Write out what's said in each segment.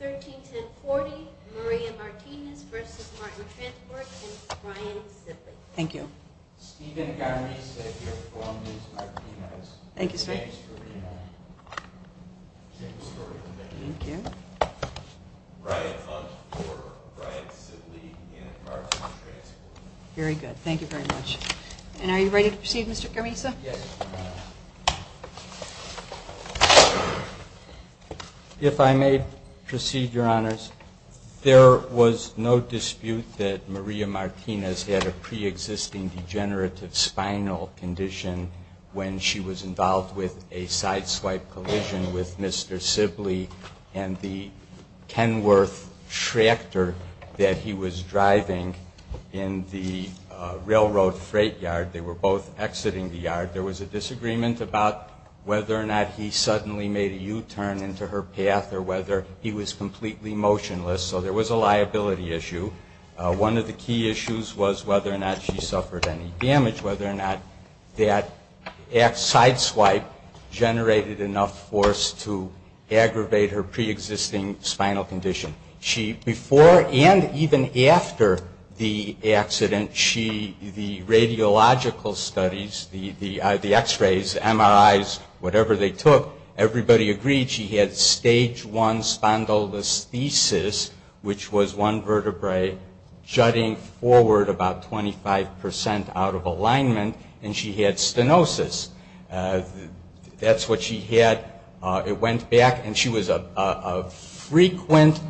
131040, Maria Martinez v. Marten Transport and Brian Sibley. Steven Garmisa here from Ms. Martinez. Thanks for being on. Thank you. Brian Hunt for Brian Sibley and Marten Transport. Very good. Thank you very much. And are you ready to proceed, Mr. Garmisa? Yes, ma'am. If I may proceed, Your Honors. There was no dispute that Maria Martinez had a pre-existing degenerative spinal condition when she was involved with a sideswipe collision with Mr. Sibley and the Kenworth tractor that he was driving in the railroad freight yard. They were both exiting the yard. There was a disagreement about whether or not he suddenly made a U-turn into her path or whether he was completely motionless. So there was a liability issue. One of the key issues was whether or not she suffered any damage, whether or not that sideswipe generated enough force to aggravate her pre-existing spinal condition. Before and even after the accident, the radiological studies, the x-rays, the MRIs, whatever they took, everybody agreed she had stage one spondylolisthesis, which was one vertebrae jutting forward about 25 percent out of alignment, and she had stenosis. That's what she had. It went back, and she was a frequent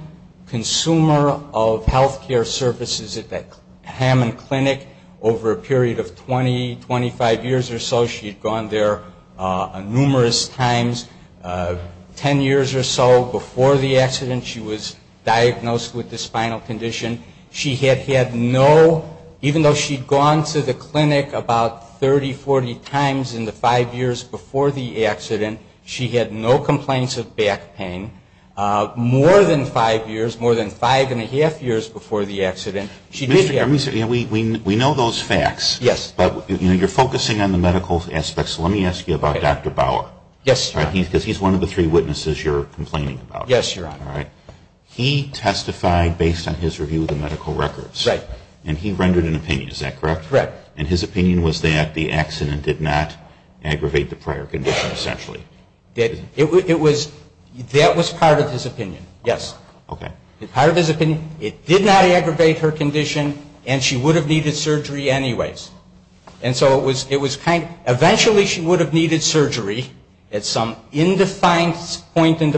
consumer of health care services at the Hammond Clinic. Over a period of 20, 25 years or so, she had gone there numerous times. Ten years or so before the accident, she was diagnosed with the spinal condition. She had had no, even though she had gone to the clinic about 30, 40 times in the five years before the accident, she had no complaints of back pain. More than five years, more than five and a half years before the accident, she did have. We know those facts. Yes. But you're focusing on the medical aspects. Let me ask you about Dr. Bauer. Yes, Your Honor. Yes, Your Honor. All right. He testified based on his review of the medical records. Right. And he rendered an opinion. Is that correct? Correct. And his opinion was that the accident did not aggravate the prior condition, essentially. It was, that was part of his opinion. Yes. Okay. Part of his opinion, it did not aggravate her condition, and she would have needed surgery anyways. And so it was kind of, eventually she would have needed surgery at some undefined point in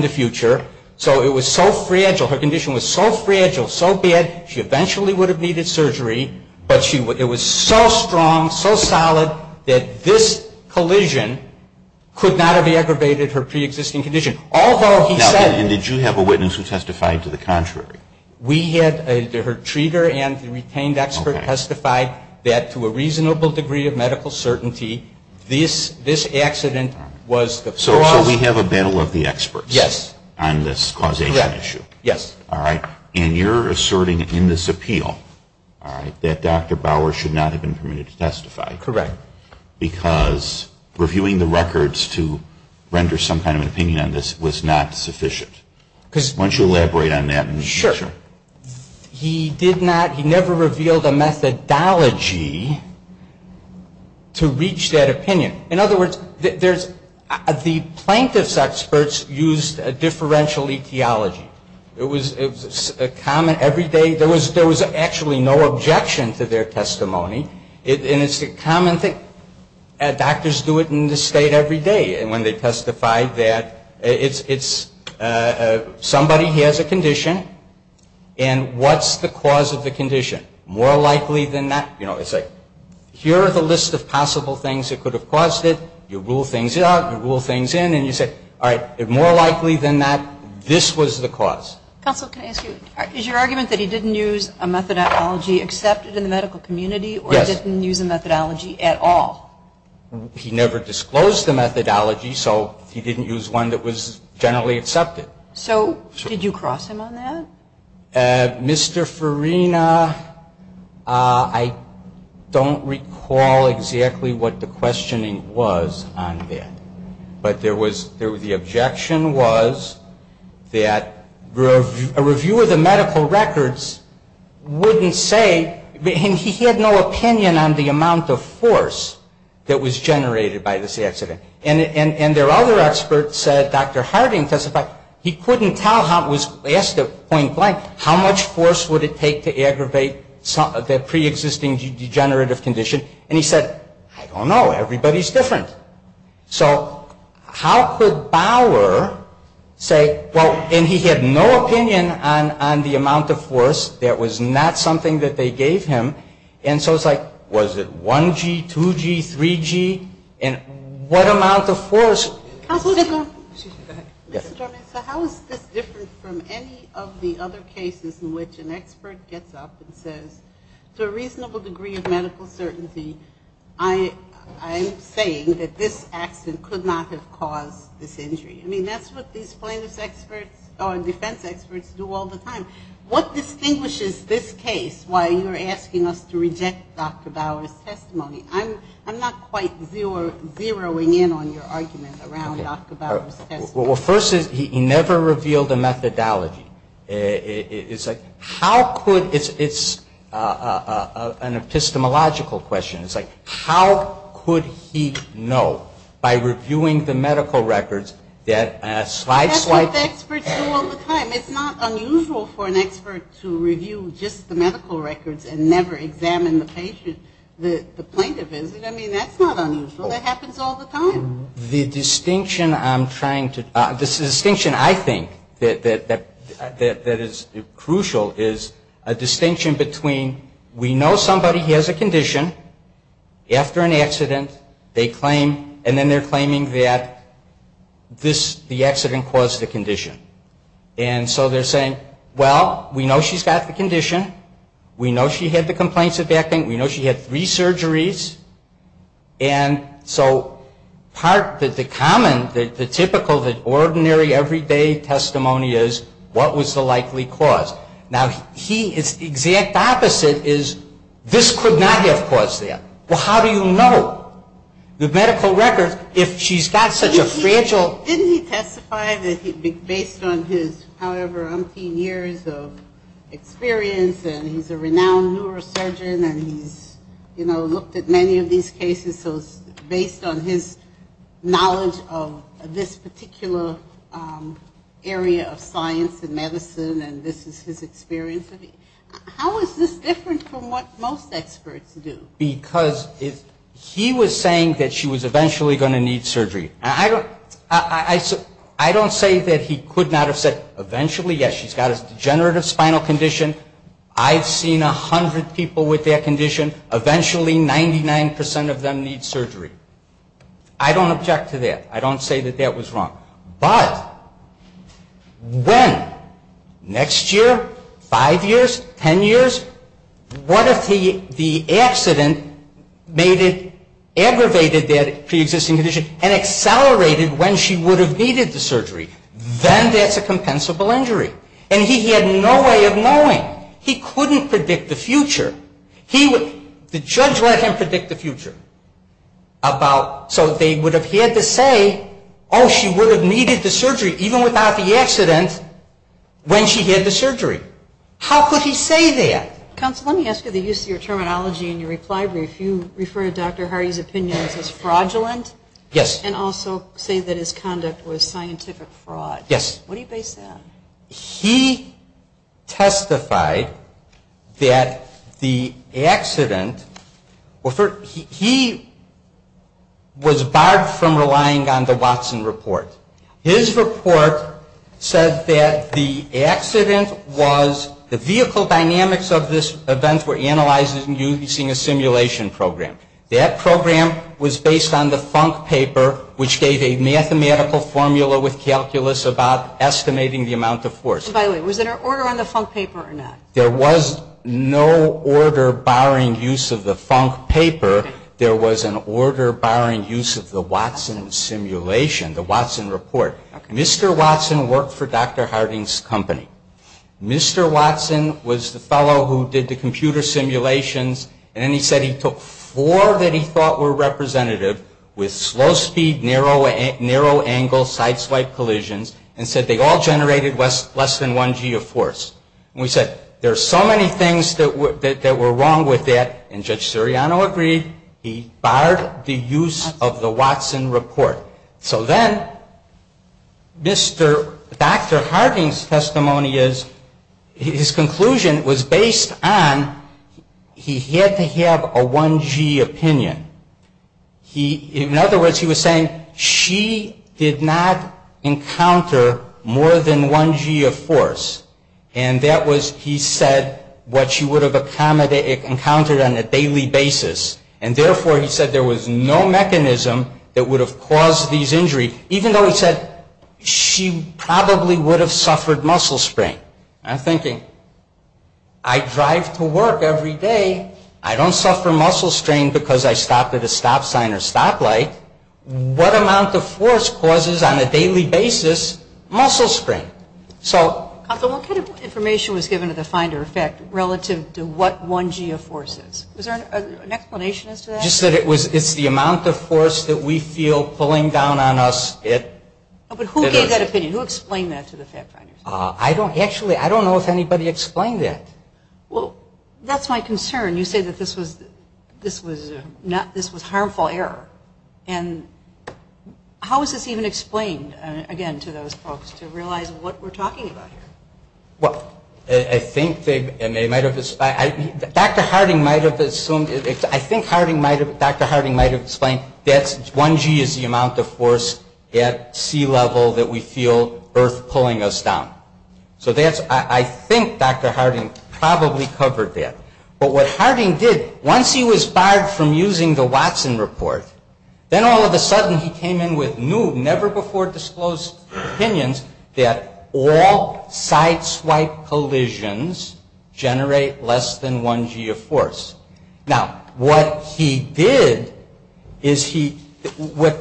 the future. So it was so fragile, her condition was so fragile, so bad, she eventually would have needed surgery. But it was so strong, so solid, that this collision could not have aggravated her preexisting condition. Although he said. Now, did you have a witness who testified to the contrary? We had her treater and the retained expert testify that to a reasonable degree of medical certainty, this accident was the first. So we have a battle of the experts. Yes. On this causation issue. Correct. Yes. All right. And you're asserting in this appeal, all right, that Dr. Bauer should not have been permitted to testify. Correct. Because reviewing the records to render some kind of an opinion on this was not sufficient. Why don't you elaborate on that? Sure. Sure. He did not, he never revealed a methodology to reach that opinion. In other words, there's, the plaintiff's experts used a differential etiology. It was a common, every day, there was actually no objection to their testimony. And it's a common thing, doctors do it in this state every day. And when they testify that it's, somebody has a condition, and what's the cause of the condition? More likely than not, you know, it's like, here are the list of possible things that could have caused it. You rule things out, you rule things in, and you say, all right, more likely than not, this was the cause. Counsel, can I ask you, is your argument that he didn't use a methodology accepted in the medical community? Yes. Or didn't use a methodology at all? He never disclosed the methodology, so he didn't use one that was generally accepted. So did you cross him on that? Mr. Farina, I don't recall exactly what the questioning was on that. But there was, the objection was that a reviewer of the medical records wouldn't say, and he had no opinion on the amount of force that was generated by this accident. And there are other experts, Dr. Harding testified, he couldn't tell how, he asked a point blank, how much force would it take to aggravate the preexisting degenerative condition? And he said, I don't know, everybody's different. So how could Bauer say, well, and he had no opinion on the amount of force that was not something that they gave him. And so it's like, was it 1G, 2G, 3G? And what amount of force? Counsel, how is this different from any of the other cases in which an expert gets up and says, to a reasonable degree of medical certainty, I'm saying that this accident could not have caused this injury. I mean, that's what these plaintiff's experts or defense experts do all the time. What distinguishes this case while you're asking us to reject Dr. Bauer's testimony? I'm not quite zeroing in on your argument around Dr. Bauer's testimony. Well, first, he never revealed a methodology. It's like, how could, it's an epistemological question. It's like, how could he know by reviewing the medical records that a slight, slight The experts do all the time. It's not unusual for an expert to review just the medical records and never examine the patient, the plaintiff is. I mean, that's not unusual. That happens all the time. The distinction I'm trying to, the distinction I think that is crucial is a distinction between we know somebody has a condition after an accident. They claim, and then they're claiming that this, the accident caused the condition. And so they're saying, well, we know she's got the condition. We know she had the complaints of acting. We know she had three surgeries. And so part, the common, the typical, the ordinary everyday testimony is, what was the likely cause? Now, he, it's the exact opposite is, this could not have caused that. Well, how do you know the medical records if she's got such a fragile Didn't he testify that he, based on his however umpteen years of experience and he's a renowned neurosurgeon and he's, you know, looked at many of these cases, so it's based on his knowledge of this particular area of science and medicine and this is his experience. How is this different from what most experts do? Because he was saying that she was eventually going to need surgery. I don't say that he could not have said eventually. Yes, she's got a degenerative spinal condition. I've seen a hundred people with that condition. Eventually 99% of them need surgery. I don't object to that. I don't say that that was wrong. But when? Next year? Five years? Ten years? What if the accident made it, aggravated that pre-existing condition and accelerated when she would have needed the surgery? Then that's a compensable injury. And he had no way of knowing. He couldn't predict the future. He would, the judge let him predict the future. So they would have had to say, oh, she would have needed the surgery even without the accident when she had the surgery. How could he say that? Counsel, let me ask you the use of your terminology in your reply brief. You refer to Dr. Hardy's opinions as fraudulent. Yes. And also say that his conduct was scientific fraud. Yes. What do you base that on? He testified that the accident, he was barred from relying on the Watson report. His report said that the accident was, the vehicle dynamics of this event were analyzed using a simulation program. That program was based on the Funk paper, which gave a mathematical formula with calculus about estimating the amount of force. By the way, was there an order on the Funk paper or not? There was no order barring use of the Funk paper. There was an order barring use of the Watson simulation, the Watson report. Mr. Watson worked for Dr. Harding's company. Mr. Watson was the fellow who did the computer simulations and then he said he took four that he thought were representative with slow speed, narrow angle, side swipe collisions and said they all generated less than 1G of force. And we said, there are so many things that were wrong with that and Judge Siriano agreed, he barred the use of the Watson report. So then, Dr. Harding's testimony is, his conclusion was based on he had to have a 1G opinion. In other words, he was saying she did not encounter more than 1G of force. And that was, he said, what she would have encountered on a daily basis. And therefore, he said there was no mechanism that would have caused these injuries. Even though he said she probably would have suffered muscle strain. I'm thinking, I drive to work every day, I don't suffer muscle strain because I stop at a stop sign or stoplight. What amount of force causes, on a daily basis, muscle strain? So... What kind of information was given to the finder, in fact, relative to what 1G of force is? Was there an explanation as to that? Just that it's the amount of force that we feel pulling down on us. But who gave that opinion? Who explained that to the fact finders? Actually, I don't know if anybody explained that. Well, that's my concern. You say that this was harmful error. And how is this even explained, again, to those folks to realize what we're talking about here? Well, I think they might have... Dr. Harding might have assumed... I think Dr. Harding might have explained that 1G is the amount of force at sea level that we feel Earth pulling us down. So that's... I think Dr. Harding probably covered that. But what Harding did, once he was barred from using the Watson report, then all of a sudden he came in with new, never-before-disclosed opinions that all sideswipe collisions generate less than 1G of force. Now, what he did is he... These were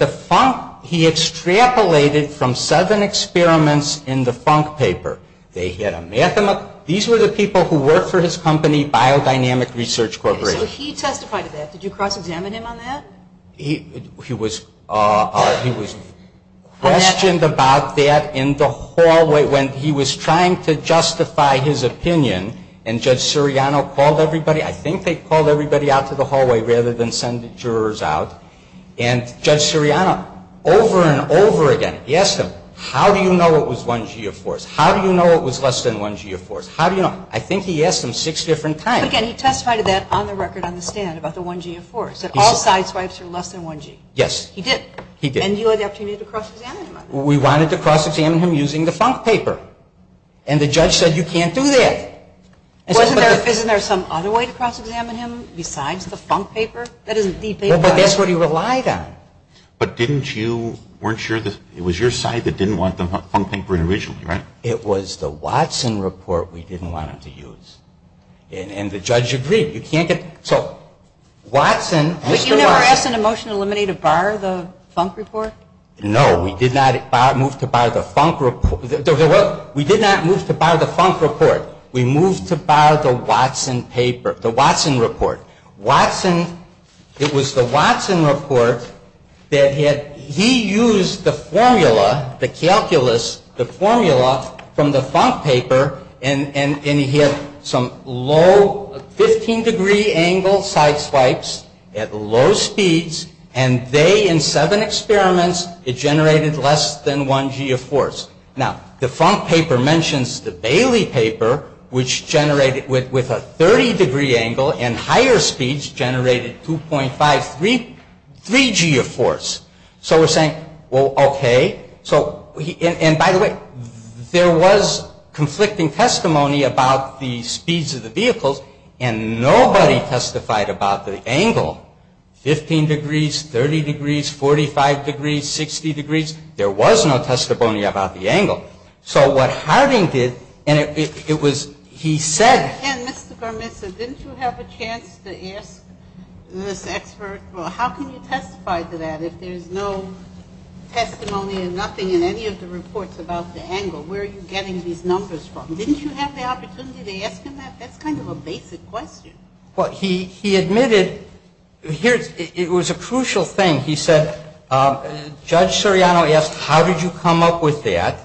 the people who worked for his company, Biodynamic Research Corporation. So he testified to that. Did you cross-examine him on that? He was questioned about that in the hallway when he was trying to justify his opinion. And Judge Siriano called everybody... I think they called everybody out to the hallway rather than send the jurors out. And Judge Siriano, over and over again, he asked him, how do you know it was 1G of force? How do you know it was less than 1G of force? How do you know? I think he asked him six different times. But again, he testified to that on the record on the stand about the 1G of force. He said all sideswipes are less than 1G. Yes. He did. He did. And you had the opportunity to cross-examine him on that. We wanted to cross-examine him using the Funk paper. And the judge said, you can't do that. Wasn't there some other way to cross-examine him besides the Funk paper? That isn't the paper I... Well, but that's what he relied on. But didn't you... It was your side that didn't want the Funk paper originally, right? It was the Watson report we didn't want him to use. And the judge agreed. So Watson... But you never asked in a motion to eliminate a bar the Funk report? No. We did not move to bar the Funk report. We did not move to bar the Funk report. We moved to bar the Watson paper, the Watson report. Watson... It was the Watson report that had... He used the formula, the calculus, the formula from the Funk paper, and he had some low, 15-degree angle sideswipes at low speeds, and they, in seven experiments, it generated less than 1G of force. Now, the Funk paper mentions the Bailey paper, which generated, with a 30-degree angle and higher speeds, generated 2.53G of force. So we're saying, well, okay. So, and by the way, there was conflicting testimony about the speeds of the vehicles, and nobody testified about the angle, 15 degrees, 30 degrees, There was no testimony about the angle. So what Harding did, and it was, he said... And Mr. Garmisa, didn't you have a chance to ask this expert, well, how can you testify to that if there's no testimony and nothing in any of the reports about the angle? Where are you getting these numbers from? Didn't you have the opportunity to ask him that? That's kind of a basic question. Well, he admitted, here's, it was a crucial thing. He said, Judge Soriano asked, how did you come up with that?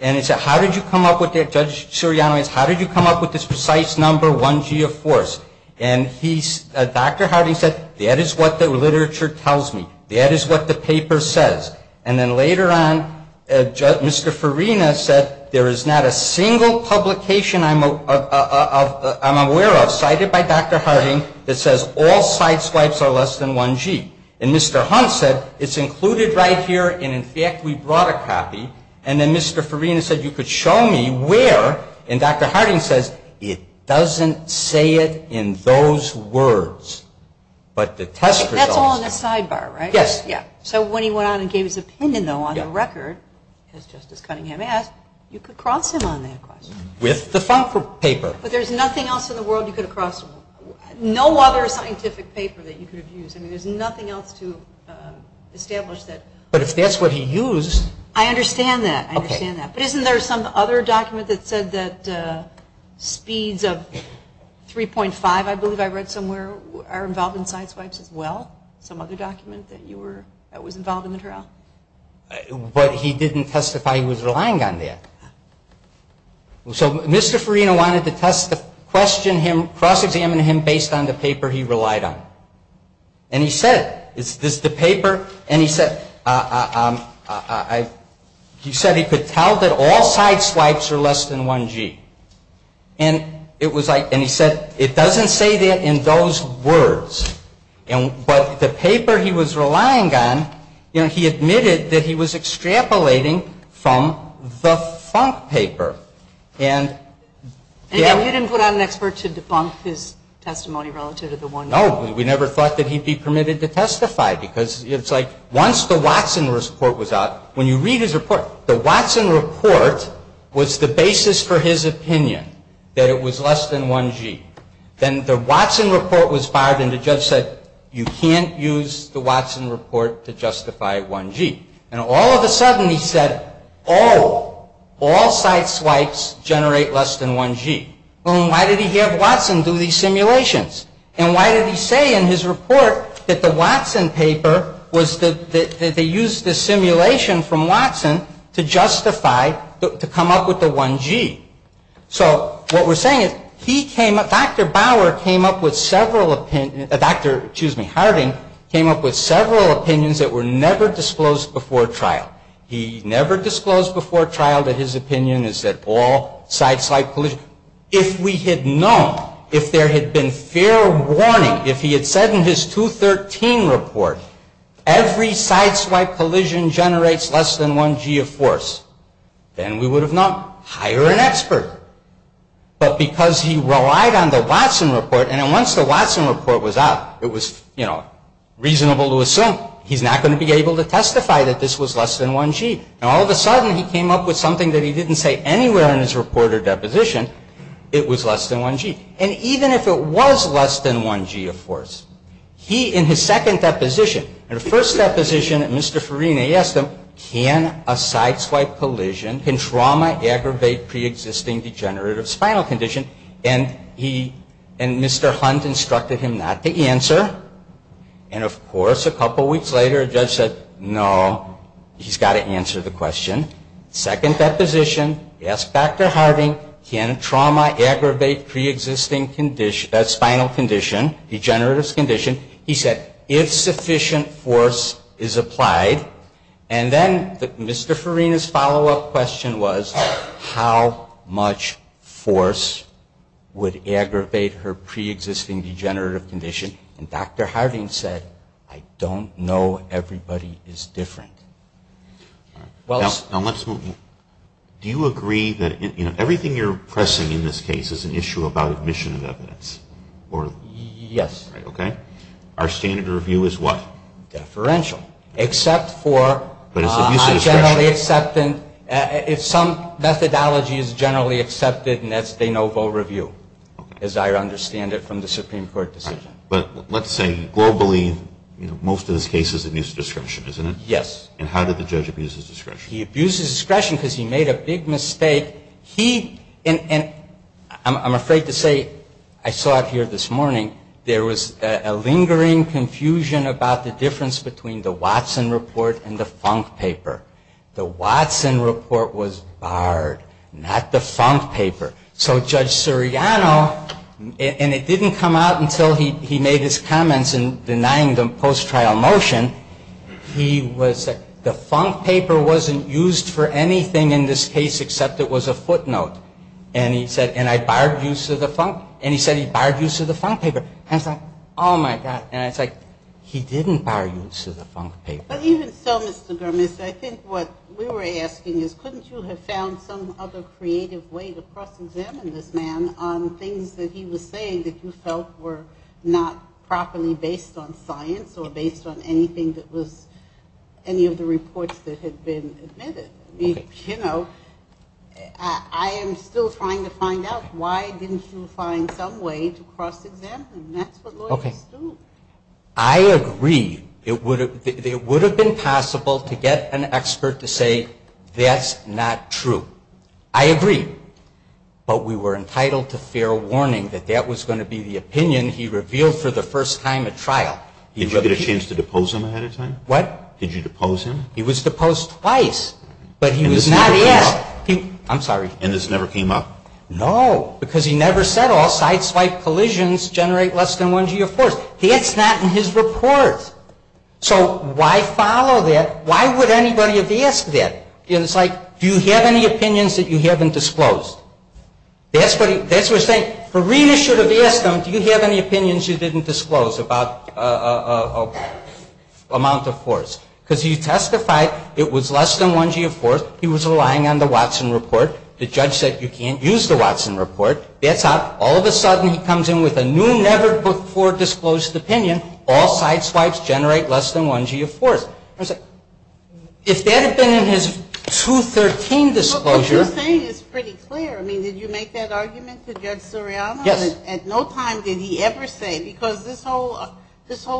And he said, how did you come up with that, Judge Soriano asked, how did you come up with this precise number, 1G of force? And he, Dr. Harding said, that is what the literature tells me. That is what the paper says. And then later on, Mr. Farina said, there is not a single publication I'm aware of, cited by Dr. Harding, that says all side swipes are less than 1G. And Mr. Hunt said, it's included right here, and in fact, we brought a copy. And then Mr. Farina said, you could show me where, and Dr. Harding says, it doesn't say it in those words. But the test results. That's all in the sidebar, right? Yes. Yeah. So when he went out and gave his opinion, though, on the record, as Justice Cunningham asked, you could cross him on that question. With the FOMC paper. But there's nothing else in the world you could have crossed him on. No other scientific paper that you could have used. I mean, there's nothing else to establish that. But if that's what he used. I understand that. But isn't there some other document that said that speeds of 3.5, I believe I read somewhere, are involved in side swipes as well? Some other document that was involved in the trial? But he didn't testify he was relying on that. So Mr. Farina wanted to cross examine him based on the paper he relied on. And he said, is this the paper? And he said, he said he could tell that all side swipes are less than 1G. And it was like, and he said, it doesn't say that in those words. But the paper he was relying on, he admitted that he was extrapolating from the FOMC paper. And. And you didn't put out an expert to debunk his testimony relative to the 1G? No, we never thought that he'd be permitted to testify. Because it's like, once the Watson report was out, when you read his report, the Watson report was the basis for his opinion that it was less than 1G. Then the Watson report was fired and the judge said, you can't use the Watson report to justify 1G. And all of a sudden he said, oh, all side swipes generate less than 1G. And why did he have Watson do these simulations? And why did he say in his report that the Watson paper was the, that they used the simulation from Watson to justify, to come up with the 1G? So what we're saying is he came up, Dr. Bauer came up with several opinions, Dr., excuse me, Harding, came up with several opinions that were never disclosed before trial. He never disclosed before trial that his opinion is that all side swipe collisions, if we had known, if there had been fair warning, if he had said in his 213 report, every side swipe collision generates less than 1G of force, then we would have known. Hire an expert. But because he relied on the Watson report, and once the Watson report was out, it was, you know, reasonable to assume he's not going to be able to testify that this was less than 1G. And all of a sudden he came up with something that he didn't say anywhere in his report or deposition. It was less than 1G. And even if it was less than 1G of force, he, in his second deposition, in the first deposition, Mr. Farina, he asked him, can a side swipe collision, can trauma aggravate preexisting degenerative spinal condition? And he, and Mr. Hunt instructed him not to answer. And of course, a couple weeks later, a judge said, no, he's got to answer the question. Second deposition, he asked Dr. Harding, can trauma aggravate preexisting spinal condition, degenerative condition? He said, if sufficient force is applied. And then Mr. Farina's follow-up question was, how much force would aggravate her preexisting degenerative condition? And Dr. Harding said, I don't know. Everybody is different. Now, let's move. Do you agree that everything you're pressing in this case is an issue about admission of evidence? Yes. Our standard review is what? Deferential. Except for, I generally accept, if some methodology is generally accepted, and that's de novo review, as I understand it from the Supreme Court decision. But let's say, globally, most of this case is abuse of discretion, isn't it? And how did the judge abuse his discretion? He abused his discretion because he made a big mistake. He, and I'm afraid to say, I saw it here this morning, there was a lingering confusion about the difference between the Watson report and the Funk paper. The Watson report was barred, not the Funk paper. So Judge Suriano, and it didn't come out until he made his comments in denying the post-trial motion, he was, the Funk paper wasn't used for anything in this case except it was a footnote. And he said, and I barred use of the Funk, and he said he barred use of the Funk paper. And I was like, oh, my God. And I was like, he didn't bar use of the Funk paper. But even so, Mr. Germist, I think what we were asking is, couldn't you have found some other creative way to cross-examine this man on things that he was saying that you felt were not properly based on science or based on anything that was, any of the reports that had been admitted? You know, I am still trying to find out why didn't you find some way to cross-examine? That's what lawyers do. I agree. It would have been possible to get an expert to say, that's not true. I agree. But we were entitled to fair warning that that was going to be the opinion he revealed for the first time at trial. Did you get a chance to depose him ahead of time? What? Did you depose him? He was deposed twice. But he was not asked. I'm sorry. And this never came up? No. Because he never said all side-swipe collisions generate less than one G of force. That's not in his report. So why follow that? Why would anybody have asked that? It's like, do you have any opinions that you haven't disclosed? That's what we're saying. Farina should have asked him, do you have any opinions you didn't disclose about amount of force? Because he testified it was less than one G of force. He was relying on the Watson report. The judge said you can't use the Watson report. That's not. All of a sudden he comes in with a new, never-before-disclosed opinion. All side-swipes generate less than one G of force. If that had been in his 213 disclosure. What you're saying is pretty clear. I mean, did you make that argument to Judge Suriano? Yes. At no time did he ever say, because this whole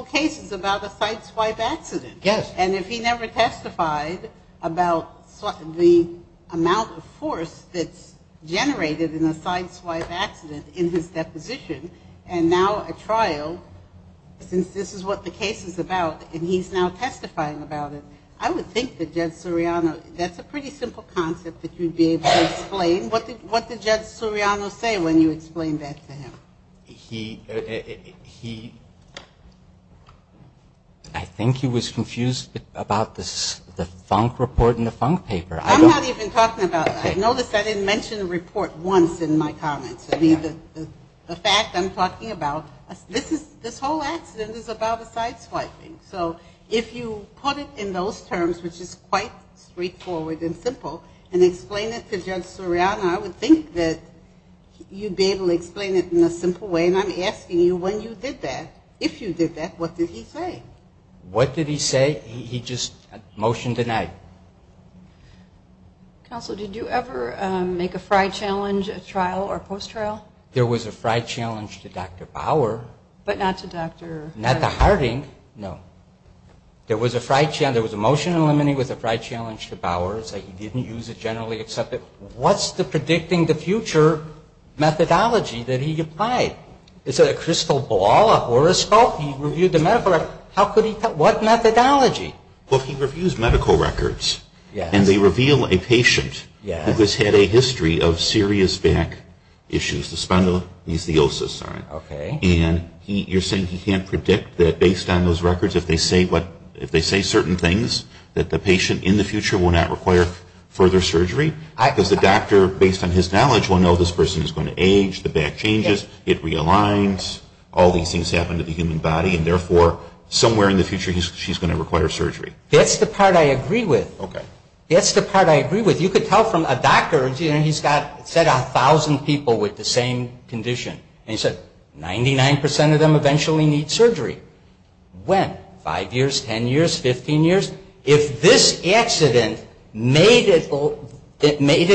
case is about a side-swipe accident. Yes. And if he never testified about the amount of force that's generated in a side-swipe accident in his deposition, and now at trial, since this is what the case is about, and he's now testifying about it, I would think that Judge Suriano, that's a pretty simple concept that you'd be able to explain. And what did Judge Suriano say when you explained that to him? He, he, I think he was confused about the Funk report and the Funk paper. I'm not even talking about, I noticed I didn't mention the report once in my comments. I mean, the fact I'm talking about, this is, this whole accident is about a side-swiping. So if you put it in those terms, which is quite straightforward and simple, and explain it to Judge Suriano, I would think that you'd be able to explain it in a simple way. And I'm asking you, when you did that, if you did that, what did he say? What did he say? He just, motion denied. Counsel, did you ever make a fry challenge at trial or post-trial? There was a fry challenge to Dr. Bauer. But not to Dr. Not to Harding, no. There was a fry challenge, there was a motion in limine with a fry challenge to Bauer. He didn't use it generally except that, what's the predicting the future methodology that he applied? Is it a crystal ball, a horoscope? He reviewed the medical record. How could he, what methodology? Well, he reviews medical records. And they reveal a patient who has had a history of serious back issues. The spondylolisthiosis, sorry. And you're saying he can't predict that based on those records, if they say certain things, that the patient in the future will not require further surgery? Because the doctor, based on his knowledge, will know this person is going to age, the back changes, it realigns, all these things happen to the human body, and therefore, somewhere in the future, she's going to require surgery. That's the part I agree with. That's the part I agree with. You could tell from a doctor, he's got, said a thousand people with the same condition. Ninety-nine percent of them eventually need surgery. When? Five years? Ten years? Fifteen years? If this accident made it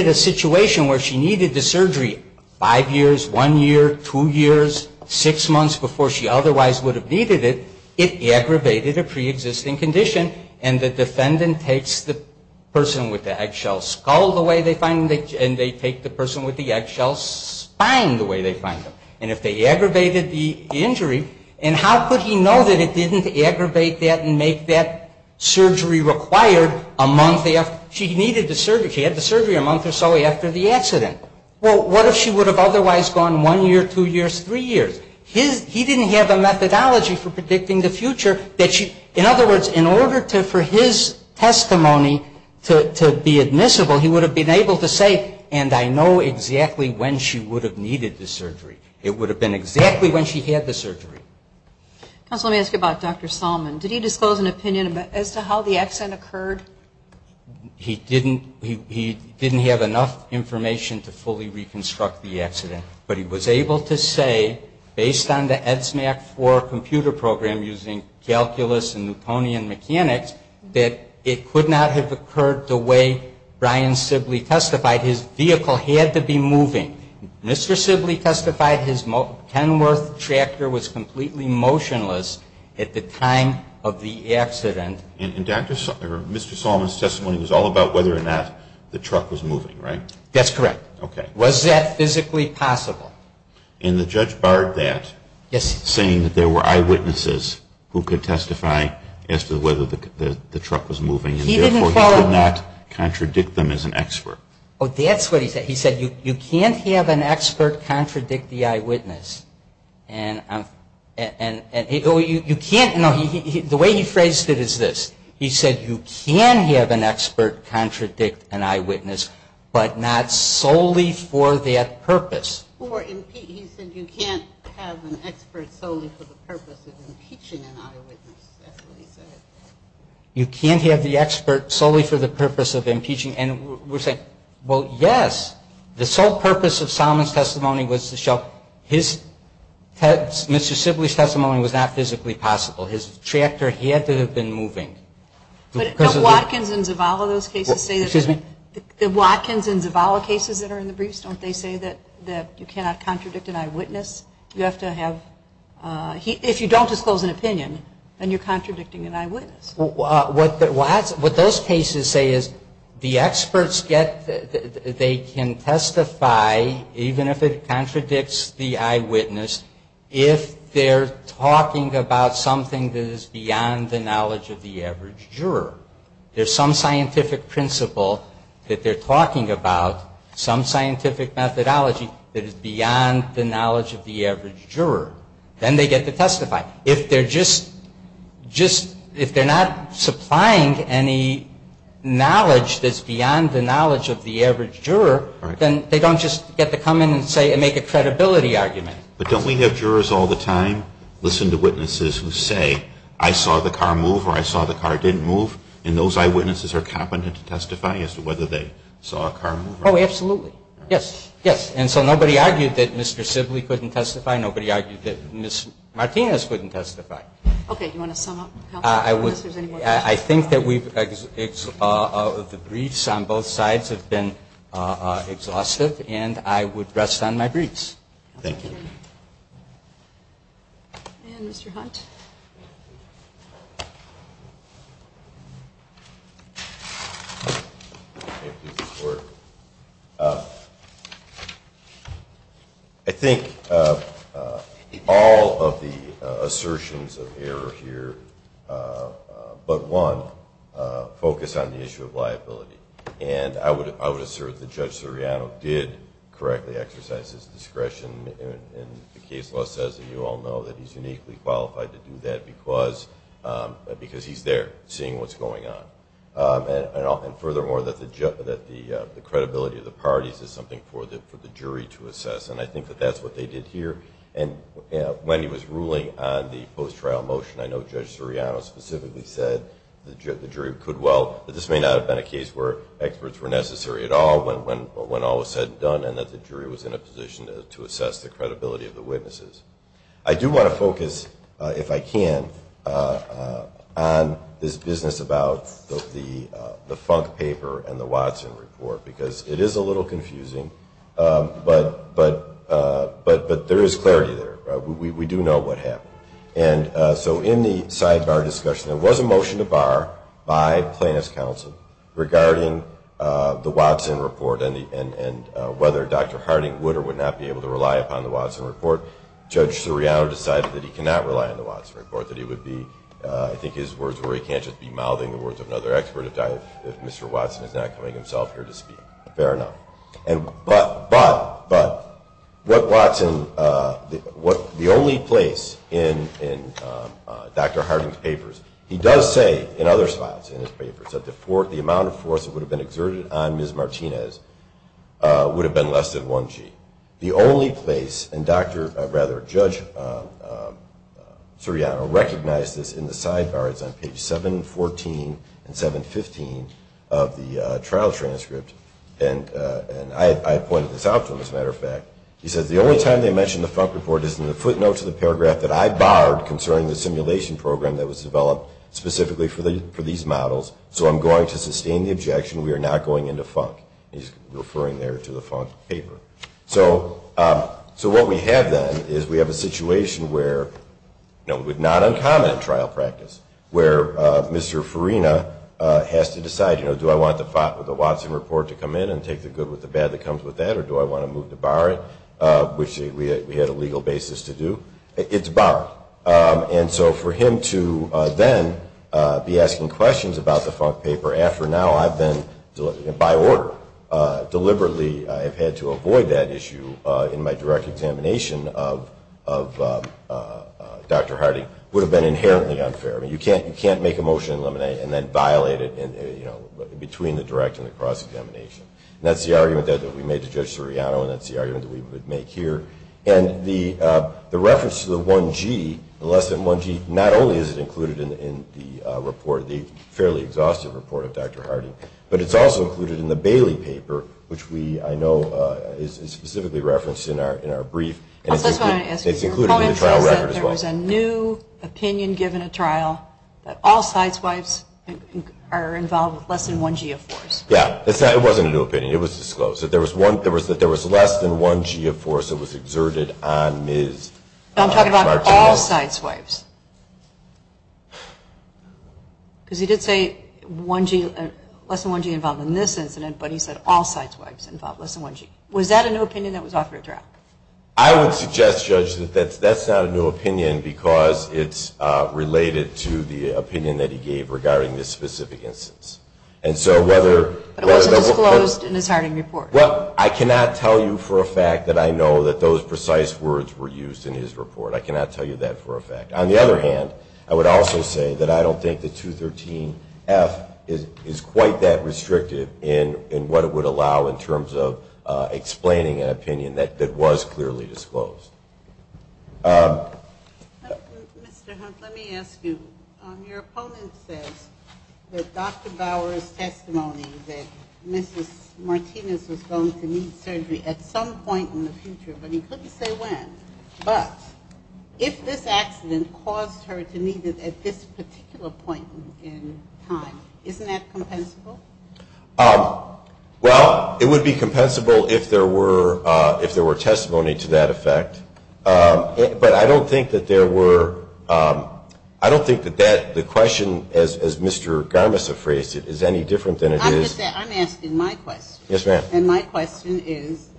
a situation where she needed the surgery five years, one year, two years, six months before she otherwise would have needed it, it aggravated a preexisting condition, and the defendant takes the person with the eggshell skull the way they find them, and they take the person with the eggshell spine the way they find them. And if they aggravated the injury, and how could he know that it didn't aggravate that and make that surgery required a month after she needed the surgery, she had the surgery a month or so after the accident. Well, what if she would have otherwise gone one year, two years, three years? He didn't have a methodology for predicting the future that she, in other words, in order for his testimony to be admissible, he would have been able to say, and I know exactly when she would have needed the surgery. It would have been exactly when she had the surgery. Counsel, let me ask you about Dr. Salmon. Did he disclose an opinion as to how the accident occurred? He didn't have enough information to fully reconstruct the accident, but he was able to say, based on the EDSMAC-IV computer program using calculus and Newtonian mechanics, that it could not have occurred the way Brian Sibley testified. His vehicle had to be moving. Mr. Sibley testified his Kenworth tractor was completely motionless at the time of the accident. And Mr. Salmon's testimony was all about whether or not the truck was moving, right? That's correct. Okay. Was that physically possible? And the judge barred that, saying that there were eyewitnesses who could testify as to whether the truck was moving, and therefore he could not contradict them as an expert. Oh, that's what he said. He said, you can't have an expert contradict the eyewitness. The way he phrased it is this. He said, you can have an expert contradict an eyewitness, but not solely for that purpose. He said you can't have an expert solely for the purpose of impeaching an eyewitness. That's what he said. You can't have the expert solely for the purpose of impeaching. And we're saying, well, yes. The sole purpose of Salmon's testimony was to show Mr. Sibley's testimony was not physically possible. His tractor had to have been moving. But don't Watkins and Zavala, those cases, say that you cannot contradict an eyewitness? You have to have, if you don't disclose an opinion, then you're contradicting an eyewitness. What those cases say is the experts get, they can testify, even if it contradicts the eyewitness, if they're talking about something that is beyond the knowledge of the average juror. There's some scientific principle that they're talking about, some scientific methodology that is beyond the knowledge of the average juror. Then they get to testify. If they're just, just, if they're not supplying any knowledge that's beyond the knowledge of the average juror, then they don't just get to come in and say, and make a credibility argument. But don't we have jurors all the time listen to witnesses who say, I saw the car move or I saw the car didn't move, and those eyewitnesses are competent to testify as to whether they saw a car move? Oh, absolutely. Yes. Yes. And so nobody argued that Mr. Sibley couldn't testify. Nobody argued that Ms. Martinez couldn't testify. Okay. Do you want to sum up? I think that the briefs on both sides have been exhaustive, and I would rest on my briefs. Thank you. And Mr. Hunt. I think all of the assertions of error here, but one, focus on the issue of liability. And I would assert that Judge Soriano did correctly exercise his discretion in the case law, as you all know, that he's uniquely qualified to do that because he's there seeing what's going on. And furthermore, that the credibility of the parties is something for the jury to assess. And I think that that's what they did here. And when he was ruling on the post-trial motion, I know Judge Soriano specifically said the jury could well, that this may not have been a case where experts were necessary at all when all was said and done, and that the jury was in a position to assess the credibility of the witnesses. I do want to focus, if I can, on this business about the Funk paper and the Watson report, because it is a little confusing, but there is clarity there. We do know what happened. And so in the sidebar discussion, there was a motion to bar by plaintiff's counsel regarding the Watson report and whether Dr. Harding would or would not be able to rely upon the Watson report. Judge Soriano decided that he cannot rely on the Watson report, that he would be, I think his words were, he can't just be mouthing the words of another expert if Mr. Watson is not coming himself here to speak. Fair enough. But what Watson, the only place in Dr. Harding's papers, he does say in other slides in his papers, that the amount of force that would have been exerted on Ms. Martinez would have been less than 1 G. The only place, and Dr., or rather Judge Soriano, recognized this in the sidebar, it's on page 714 and 715 of the trial transcript, and I pointed this out to him, as a matter of fact, he says, the only time they mentioned the Funk report is in the footnote to the paragraph that I barred concerning the simulation program that was developed specifically for these models. So I'm going to sustain the objection. We are not going into Funk. He's referring there to the Funk paper. So what we have then is we have a situation where, not uncommon in trial practice, where Mr. Farina has to decide, do I want the Watson report to come in and take the good with the bad that comes with that, or do I want to move to bar it, which we had a legal basis to do. It's barred. And so for him to then be asking questions about the Funk paper after now I've been, by order, deliberately have had to avoid that issue in my direct examination of Dr. Hardy would have been inherently unfair. I mean, you can't make a motion and eliminate it and then violate it between the direct and the cross-examination. And that's the argument that we made to Judge Soriano, and that's the argument that we would make here. And the reference to the 1G, the less than 1G, not only is it included in the report, the fairly exhaustive report of Dr. Hardy, but it's also included in the Bailey paper, which we, I know, is specifically referenced in our brief. And it's included in the trial record as well. I just wanted to ask, your comment says that there was a new opinion given a trial that all sideswipes are involved with less than 1G of force. Yeah. It wasn't a new opinion. It was disclosed. It was disclosed that there was less than 1G of force that was exerted on Ms. Martinez. I'm talking about all sideswipes. Because he did say less than 1G involved in this incident, but he said all sideswipes involved less than 1G. Was that a new opinion that was offered at trial? I would suggest, Judge, that that's not a new opinion because it's related to the opinion that he gave regarding this specific instance. And so whether... But it wasn't disclosed in his Harding report. Well, I cannot tell you for a fact that I know that those precise words were used in his report. I cannot tell you that for a fact. On the other hand, I would also say that I don't think the 213F is quite that restrictive in what it would allow in terms of explaining an opinion that was clearly disclosed. Mr. Hunt, let me ask you. Your opponent says that Dr. Bower's testimony that Mrs. Martinez was going to need surgery at some point in the future, but he couldn't say when. But if this accident caused her to need it at this particular point in time, isn't that compensable? Well, it would be compensable if there were testimony to that effect. But I don't think that there were... I don't think that the question, as Mr. Garmus has phrased it, is any different than it is... I'm asking my question. Yes, ma'am. And my question is,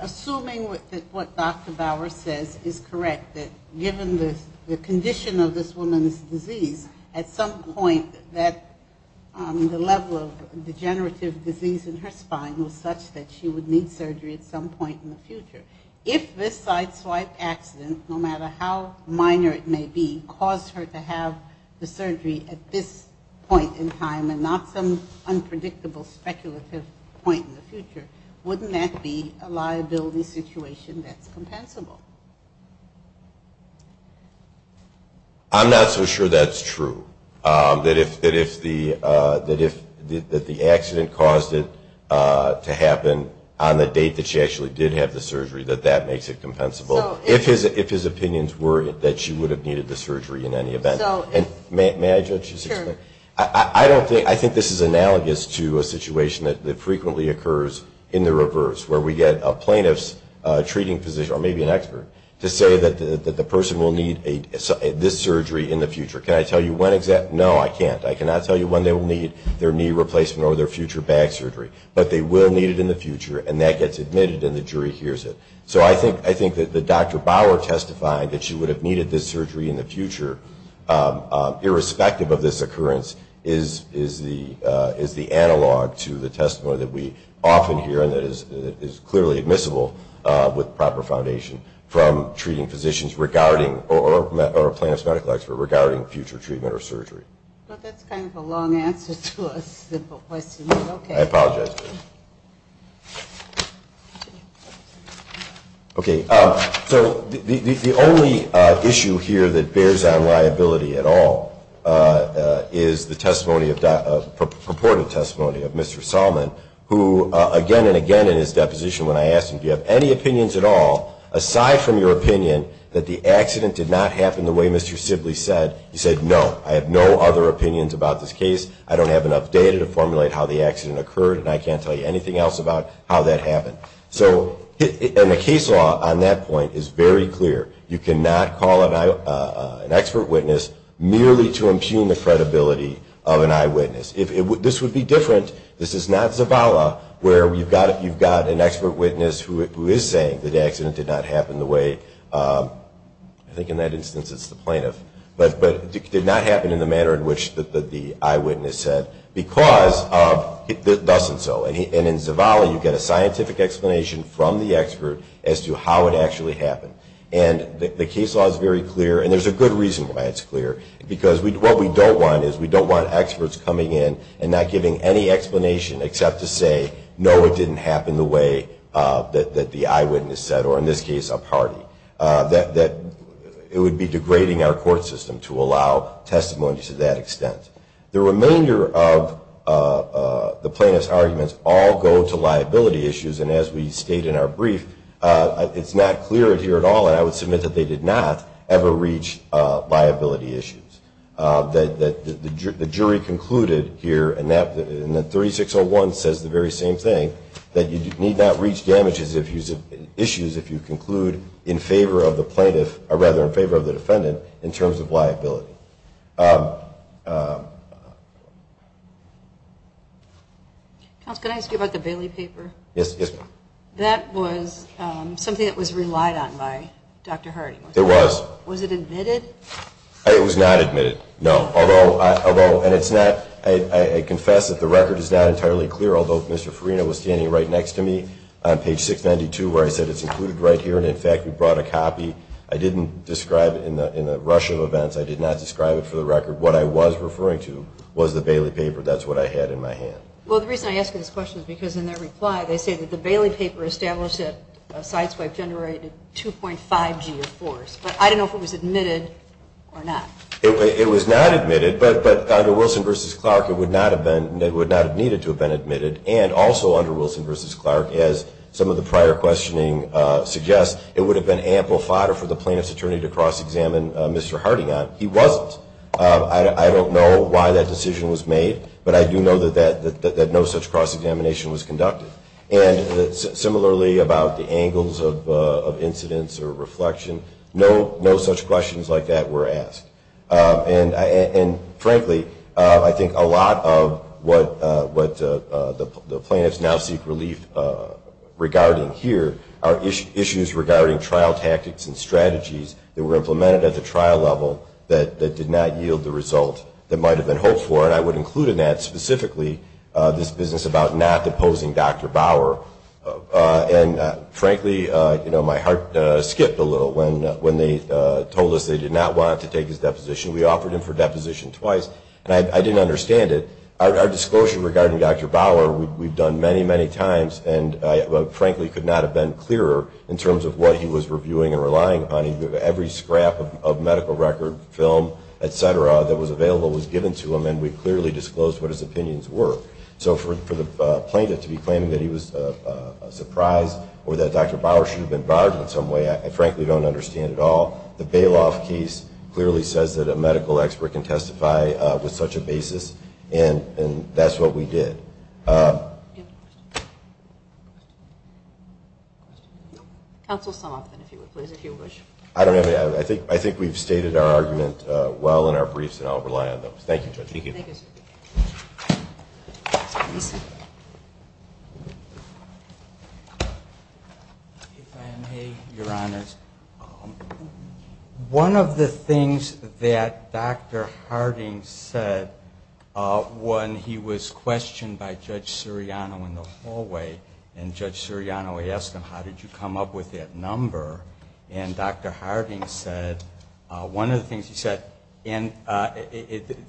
assuming that what Dr. Bower says is correct, that given the condition of this woman's disease, at some point that the level of degenerative disease in her spine was such that she would need surgery at some point in the future, if this sideswipe accident, no matter how minor it may be, caused her to have the surgery at this point in time and not some unpredictable speculative point in the future, wouldn't that be a liability situation that's compensable? I'm not so sure that's true. That if the accident caused it to happen on the date that she actually did have the surgery, that that makes it compensable. If his opinions were that she would have needed the surgery in any event. May I just... Sure. I think this is analogous to a situation that frequently occurs in the reverse, where we get a plaintiff's treating physician, or maybe an expert, to say that the person will need this surgery in the future. Can I tell you when exactly? No, I can't. I cannot tell you when they will need their knee replacement or their future back surgery, but they will need it in the future, and that gets admitted and the jury hears it. So I think that Dr. Bauer testifying that she would have needed this surgery in the future, irrespective of this occurrence, is the analog to the testimony that we often hear and that is clearly admissible with proper foundation from treating physicians regarding, or a plaintiff's medical expert, regarding future treatment or surgery. Well, that's kind of a long answer to a simple question. Okay. I apologize. Okay. So the only issue here that bears on liability at all is the testimony of, purported testimony of Mr. Salmon, who again and again in his deposition, when I asked him, do you have any opinions at all, aside from your opinion that the accident did not happen the way Mr. Sibley said, he said no, I have no other opinions about this case, I don't have enough data to formulate how the accident occurred, and I can't tell you anything else about how that happened. And the case law on that point is very clear. You cannot call an expert witness merely to impugn the credibility of an eyewitness. This would be different, this is not Zavala, where you've got an expert witness who is saying that the accident did not happen the way, I think in that instance it's the plaintiff, did not happen in the manner in which the eyewitness said, because of thus and so. And in Zavala you get a scientific explanation from the expert as to how it actually happened. And the case law is very clear, and there's a good reason why it's clear, because what we don't want is we don't want experts coming in and not giving any explanation except to say, no it didn't happen the way that the eyewitness said, or in this case, it was a party. It would be degrading our court system to allow testimony to that extent. The remainder of the plaintiff's arguments all go to liability issues, and as we state in our brief, it's not clear here at all, and I would submit that they did not ever reach liability issues. The jury concluded here, and the 3601 says the very same thing, that you need not reach issues if you conclude in favor of the defendant in terms of liability. Counsel, can I ask you about the Bailey paper? Yes, ma'am. That was something that was relied on by Dr. Harding. It was. Was it admitted? It was not admitted, no. I confess that the record is not entirely clear, although Mr. Farina was standing right next to me on page 692 and I think we brought a copy. I didn't describe it in the rush of events. I did not describe it for the record. What I was referring to was the Bailey paper. That's what I had in my hand. Well, the reason I ask this question is because in their reply, they say that the Bailey paper established that a side swipe generated 2.5 G of force, but I don't know if it was admitted or not. It was not admitted, but under Wilson v. Clark there would have been ample fodder for the plaintiff's attorney to cross-examine Mr. Harding on. He wasn't. I don't know why that decision was made, but I do know that no such cross-examination was conducted. And similarly about the angles of incidents or reflection, no such questions like that were asked. And frankly, I think a lot of what the plaintiffs now seek relief regarding here are issues regarding trial tactics and strategies that were implemented at the trial level that did not yield the result that might have been hoped for, and I would include in that specifically this business about not deposing Dr. Bauer. And frankly, my heart skipped a little when they told us they did not want to take his deposition. We offered him for deposition twice, and I didn't understand it. Our disclosure regarding Dr. Bauer we've done many, many times, and frankly could not have been clearer if we were viewing and relying on him. Every scrap of medical record, film, et cetera, that was available was given to him, and we clearly disclosed what his opinions were. So for the plaintiff to be claiming that he was surprised or that Dr. Bauer should have been barred in some way, I frankly don't understand at all. The Bailoff case clearly says that a medical expert can testify with such a basis, and that's what we did. Do you have a question? No. Counsel, sum up then, if you would please, if you wish. I don't have anything. I think we've stated our argument well in our briefs, and I'll rely on those. Thank you, Judge. Thank you. If I may, Your Honors. One of the things that Dr. Harding said when he was questioned by Judge Siriano in the hallway, and Judge Siriano asked him, how did you come up with that number? And Dr. Harding said, one of the things he said, and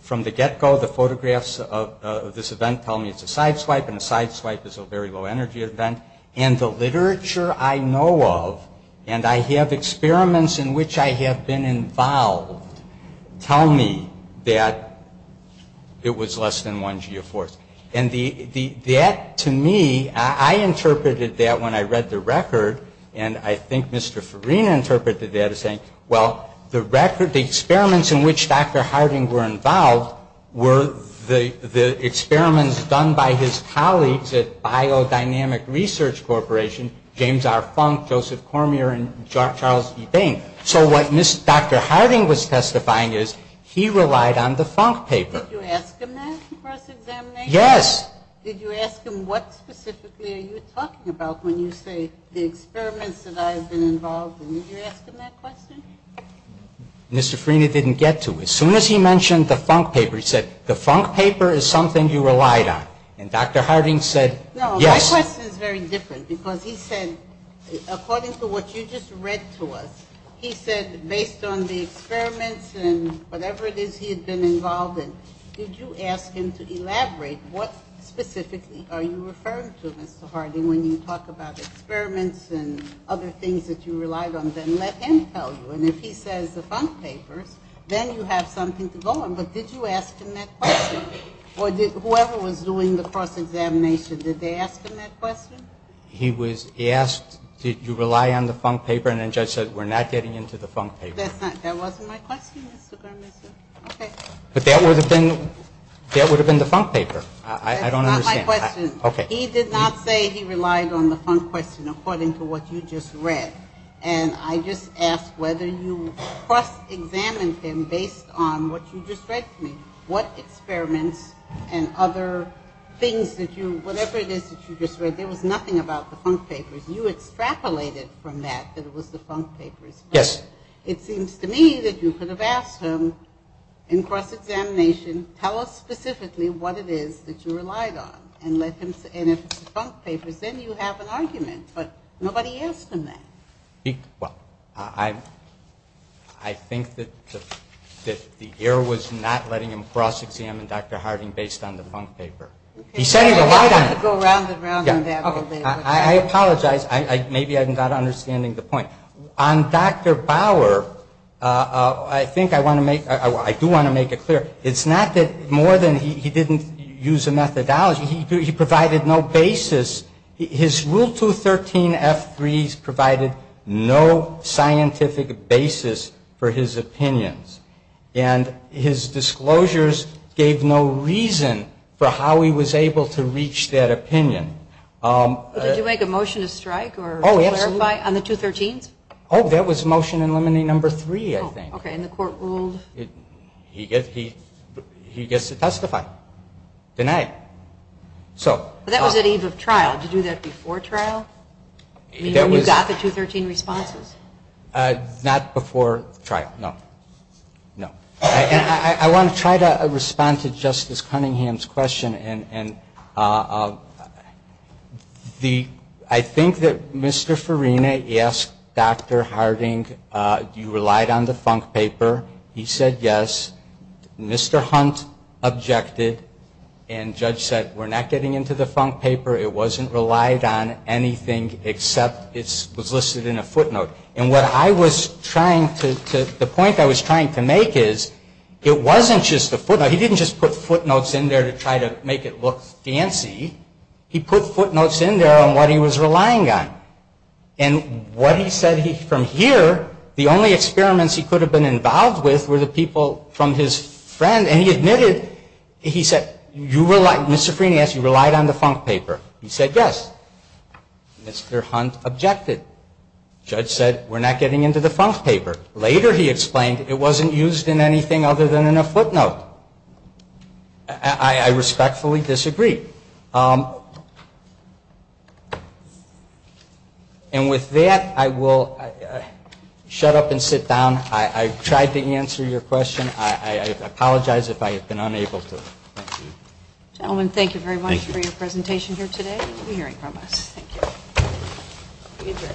from the get-go, the photographs of this event tell me it's a side swipe, and a side swipe is a very low energy event, and the literature I know of, and I have experiments in which I have been involved, tell me that it was less than 1 G of force. And that, to me, I interpreted that when I read the record, and I think Mr. Farina interpreted that as saying, well, the record, the experiments in which Dr. Harding were involved were the experiments done by his colleagues at Biodynamic Research Corporation, James R. Funk, Joseph Cormier, and Charles E. Bain. So what Dr. Harding was testifying is he relied on the Funk paper. Did you ask him that during the first examination? Yes. Did you ask him what specifically are you talking about when you say the experiments that I have been involved in? Did you ask him that question? Mr. Farina didn't get to it. As soon as he mentioned the Funk paper, he said, the Funk paper is something you relied on. And Dr. Harding said, yes. No, my question is very different because he said, according to what you just read to us, he said, based on the experiments and whatever it is he had been involved in, did you ask him to elaborate what specifically are you referring to, Mr. Harding, when you talk about experiments and other things that you relied on? Then let him tell you. And if he says the Funk papers, then you have something to go on. But did you ask him that question? Or whoever was doing the cross-examination, did they ask him that question? He asked, did you rely on the Funk paper? I'm not getting into the Funk paper. That wasn't my question, Mr. Garmazzo. Okay. But that would have been the Funk paper. I don't understand. That's not my question. Okay. He did not say he relied on the Funk question according to what you just read. And I just asked whether you cross-examined him based on what you just read to me. What experiments and other things that you, whatever it is that you just read, there was nothing about the Funk papers. You extrapolated from that that it was the Funk papers. Yes. It seems to me that you could have asked him in cross-examination, tell us specifically what it is that you relied on. And if it's the Funk papers, then you have an argument. But nobody asked him that. Well, I think that the error was not letting him cross-examine Dr. Harding based on the Funk paper. He said he relied on it. Go round and round on that all day. I apologize. Maybe I'm not understanding the point. On Dr. Bauer, I think I want to make, I do want to make it clear, it's not that more than he didn't use a methodology. He provided no basis. His Rule 213 F3s provided no scientific basis for his opinions. And his disclosures gave no reason for how he was able to reach that opinion. Did you make a motion to strike or clarify on the 213s? Oh, that was Motion in Limine No. 3, I think. Okay, and the court ruled? He gets to testify. Denied. So. That was at eve of trial. Did you do that before trial? When you got the 213 responses? Not before trial. No. No. I want to try to respond to Justice Cunningham's question. And the, I think that Mr. Farina asked Dr. Harding, you relied on the funk paper. He said yes. Mr. Hunt objected. And Judge said, we're not getting into the funk paper. It wasn't relied on anything except it was listed in a footnote. And what I was trying to, the point I was trying to make is, it wasn't just a footnote. He didn't just put footnotes in there to try to make it look fancy. He put footnotes in there on what he was relying on. And what he said, from here, the only experiments he could have been involved with were the people from his friend. And he admitted, he said, you relied, Mr. Farina asked, you relied on the funk paper. He said yes. Mr. Hunt objected. Judge said, we're not getting into the funk paper. Later he explained, it wasn't used in anything other than in a footnote. I respectfully disagree. And with that, I will shut up and sit down. I tried to answer your question. if I have been unable to. Thank you. Gentlemen, thank you very much for your presentation here today and for hearing from us. Thank you. We adjourn.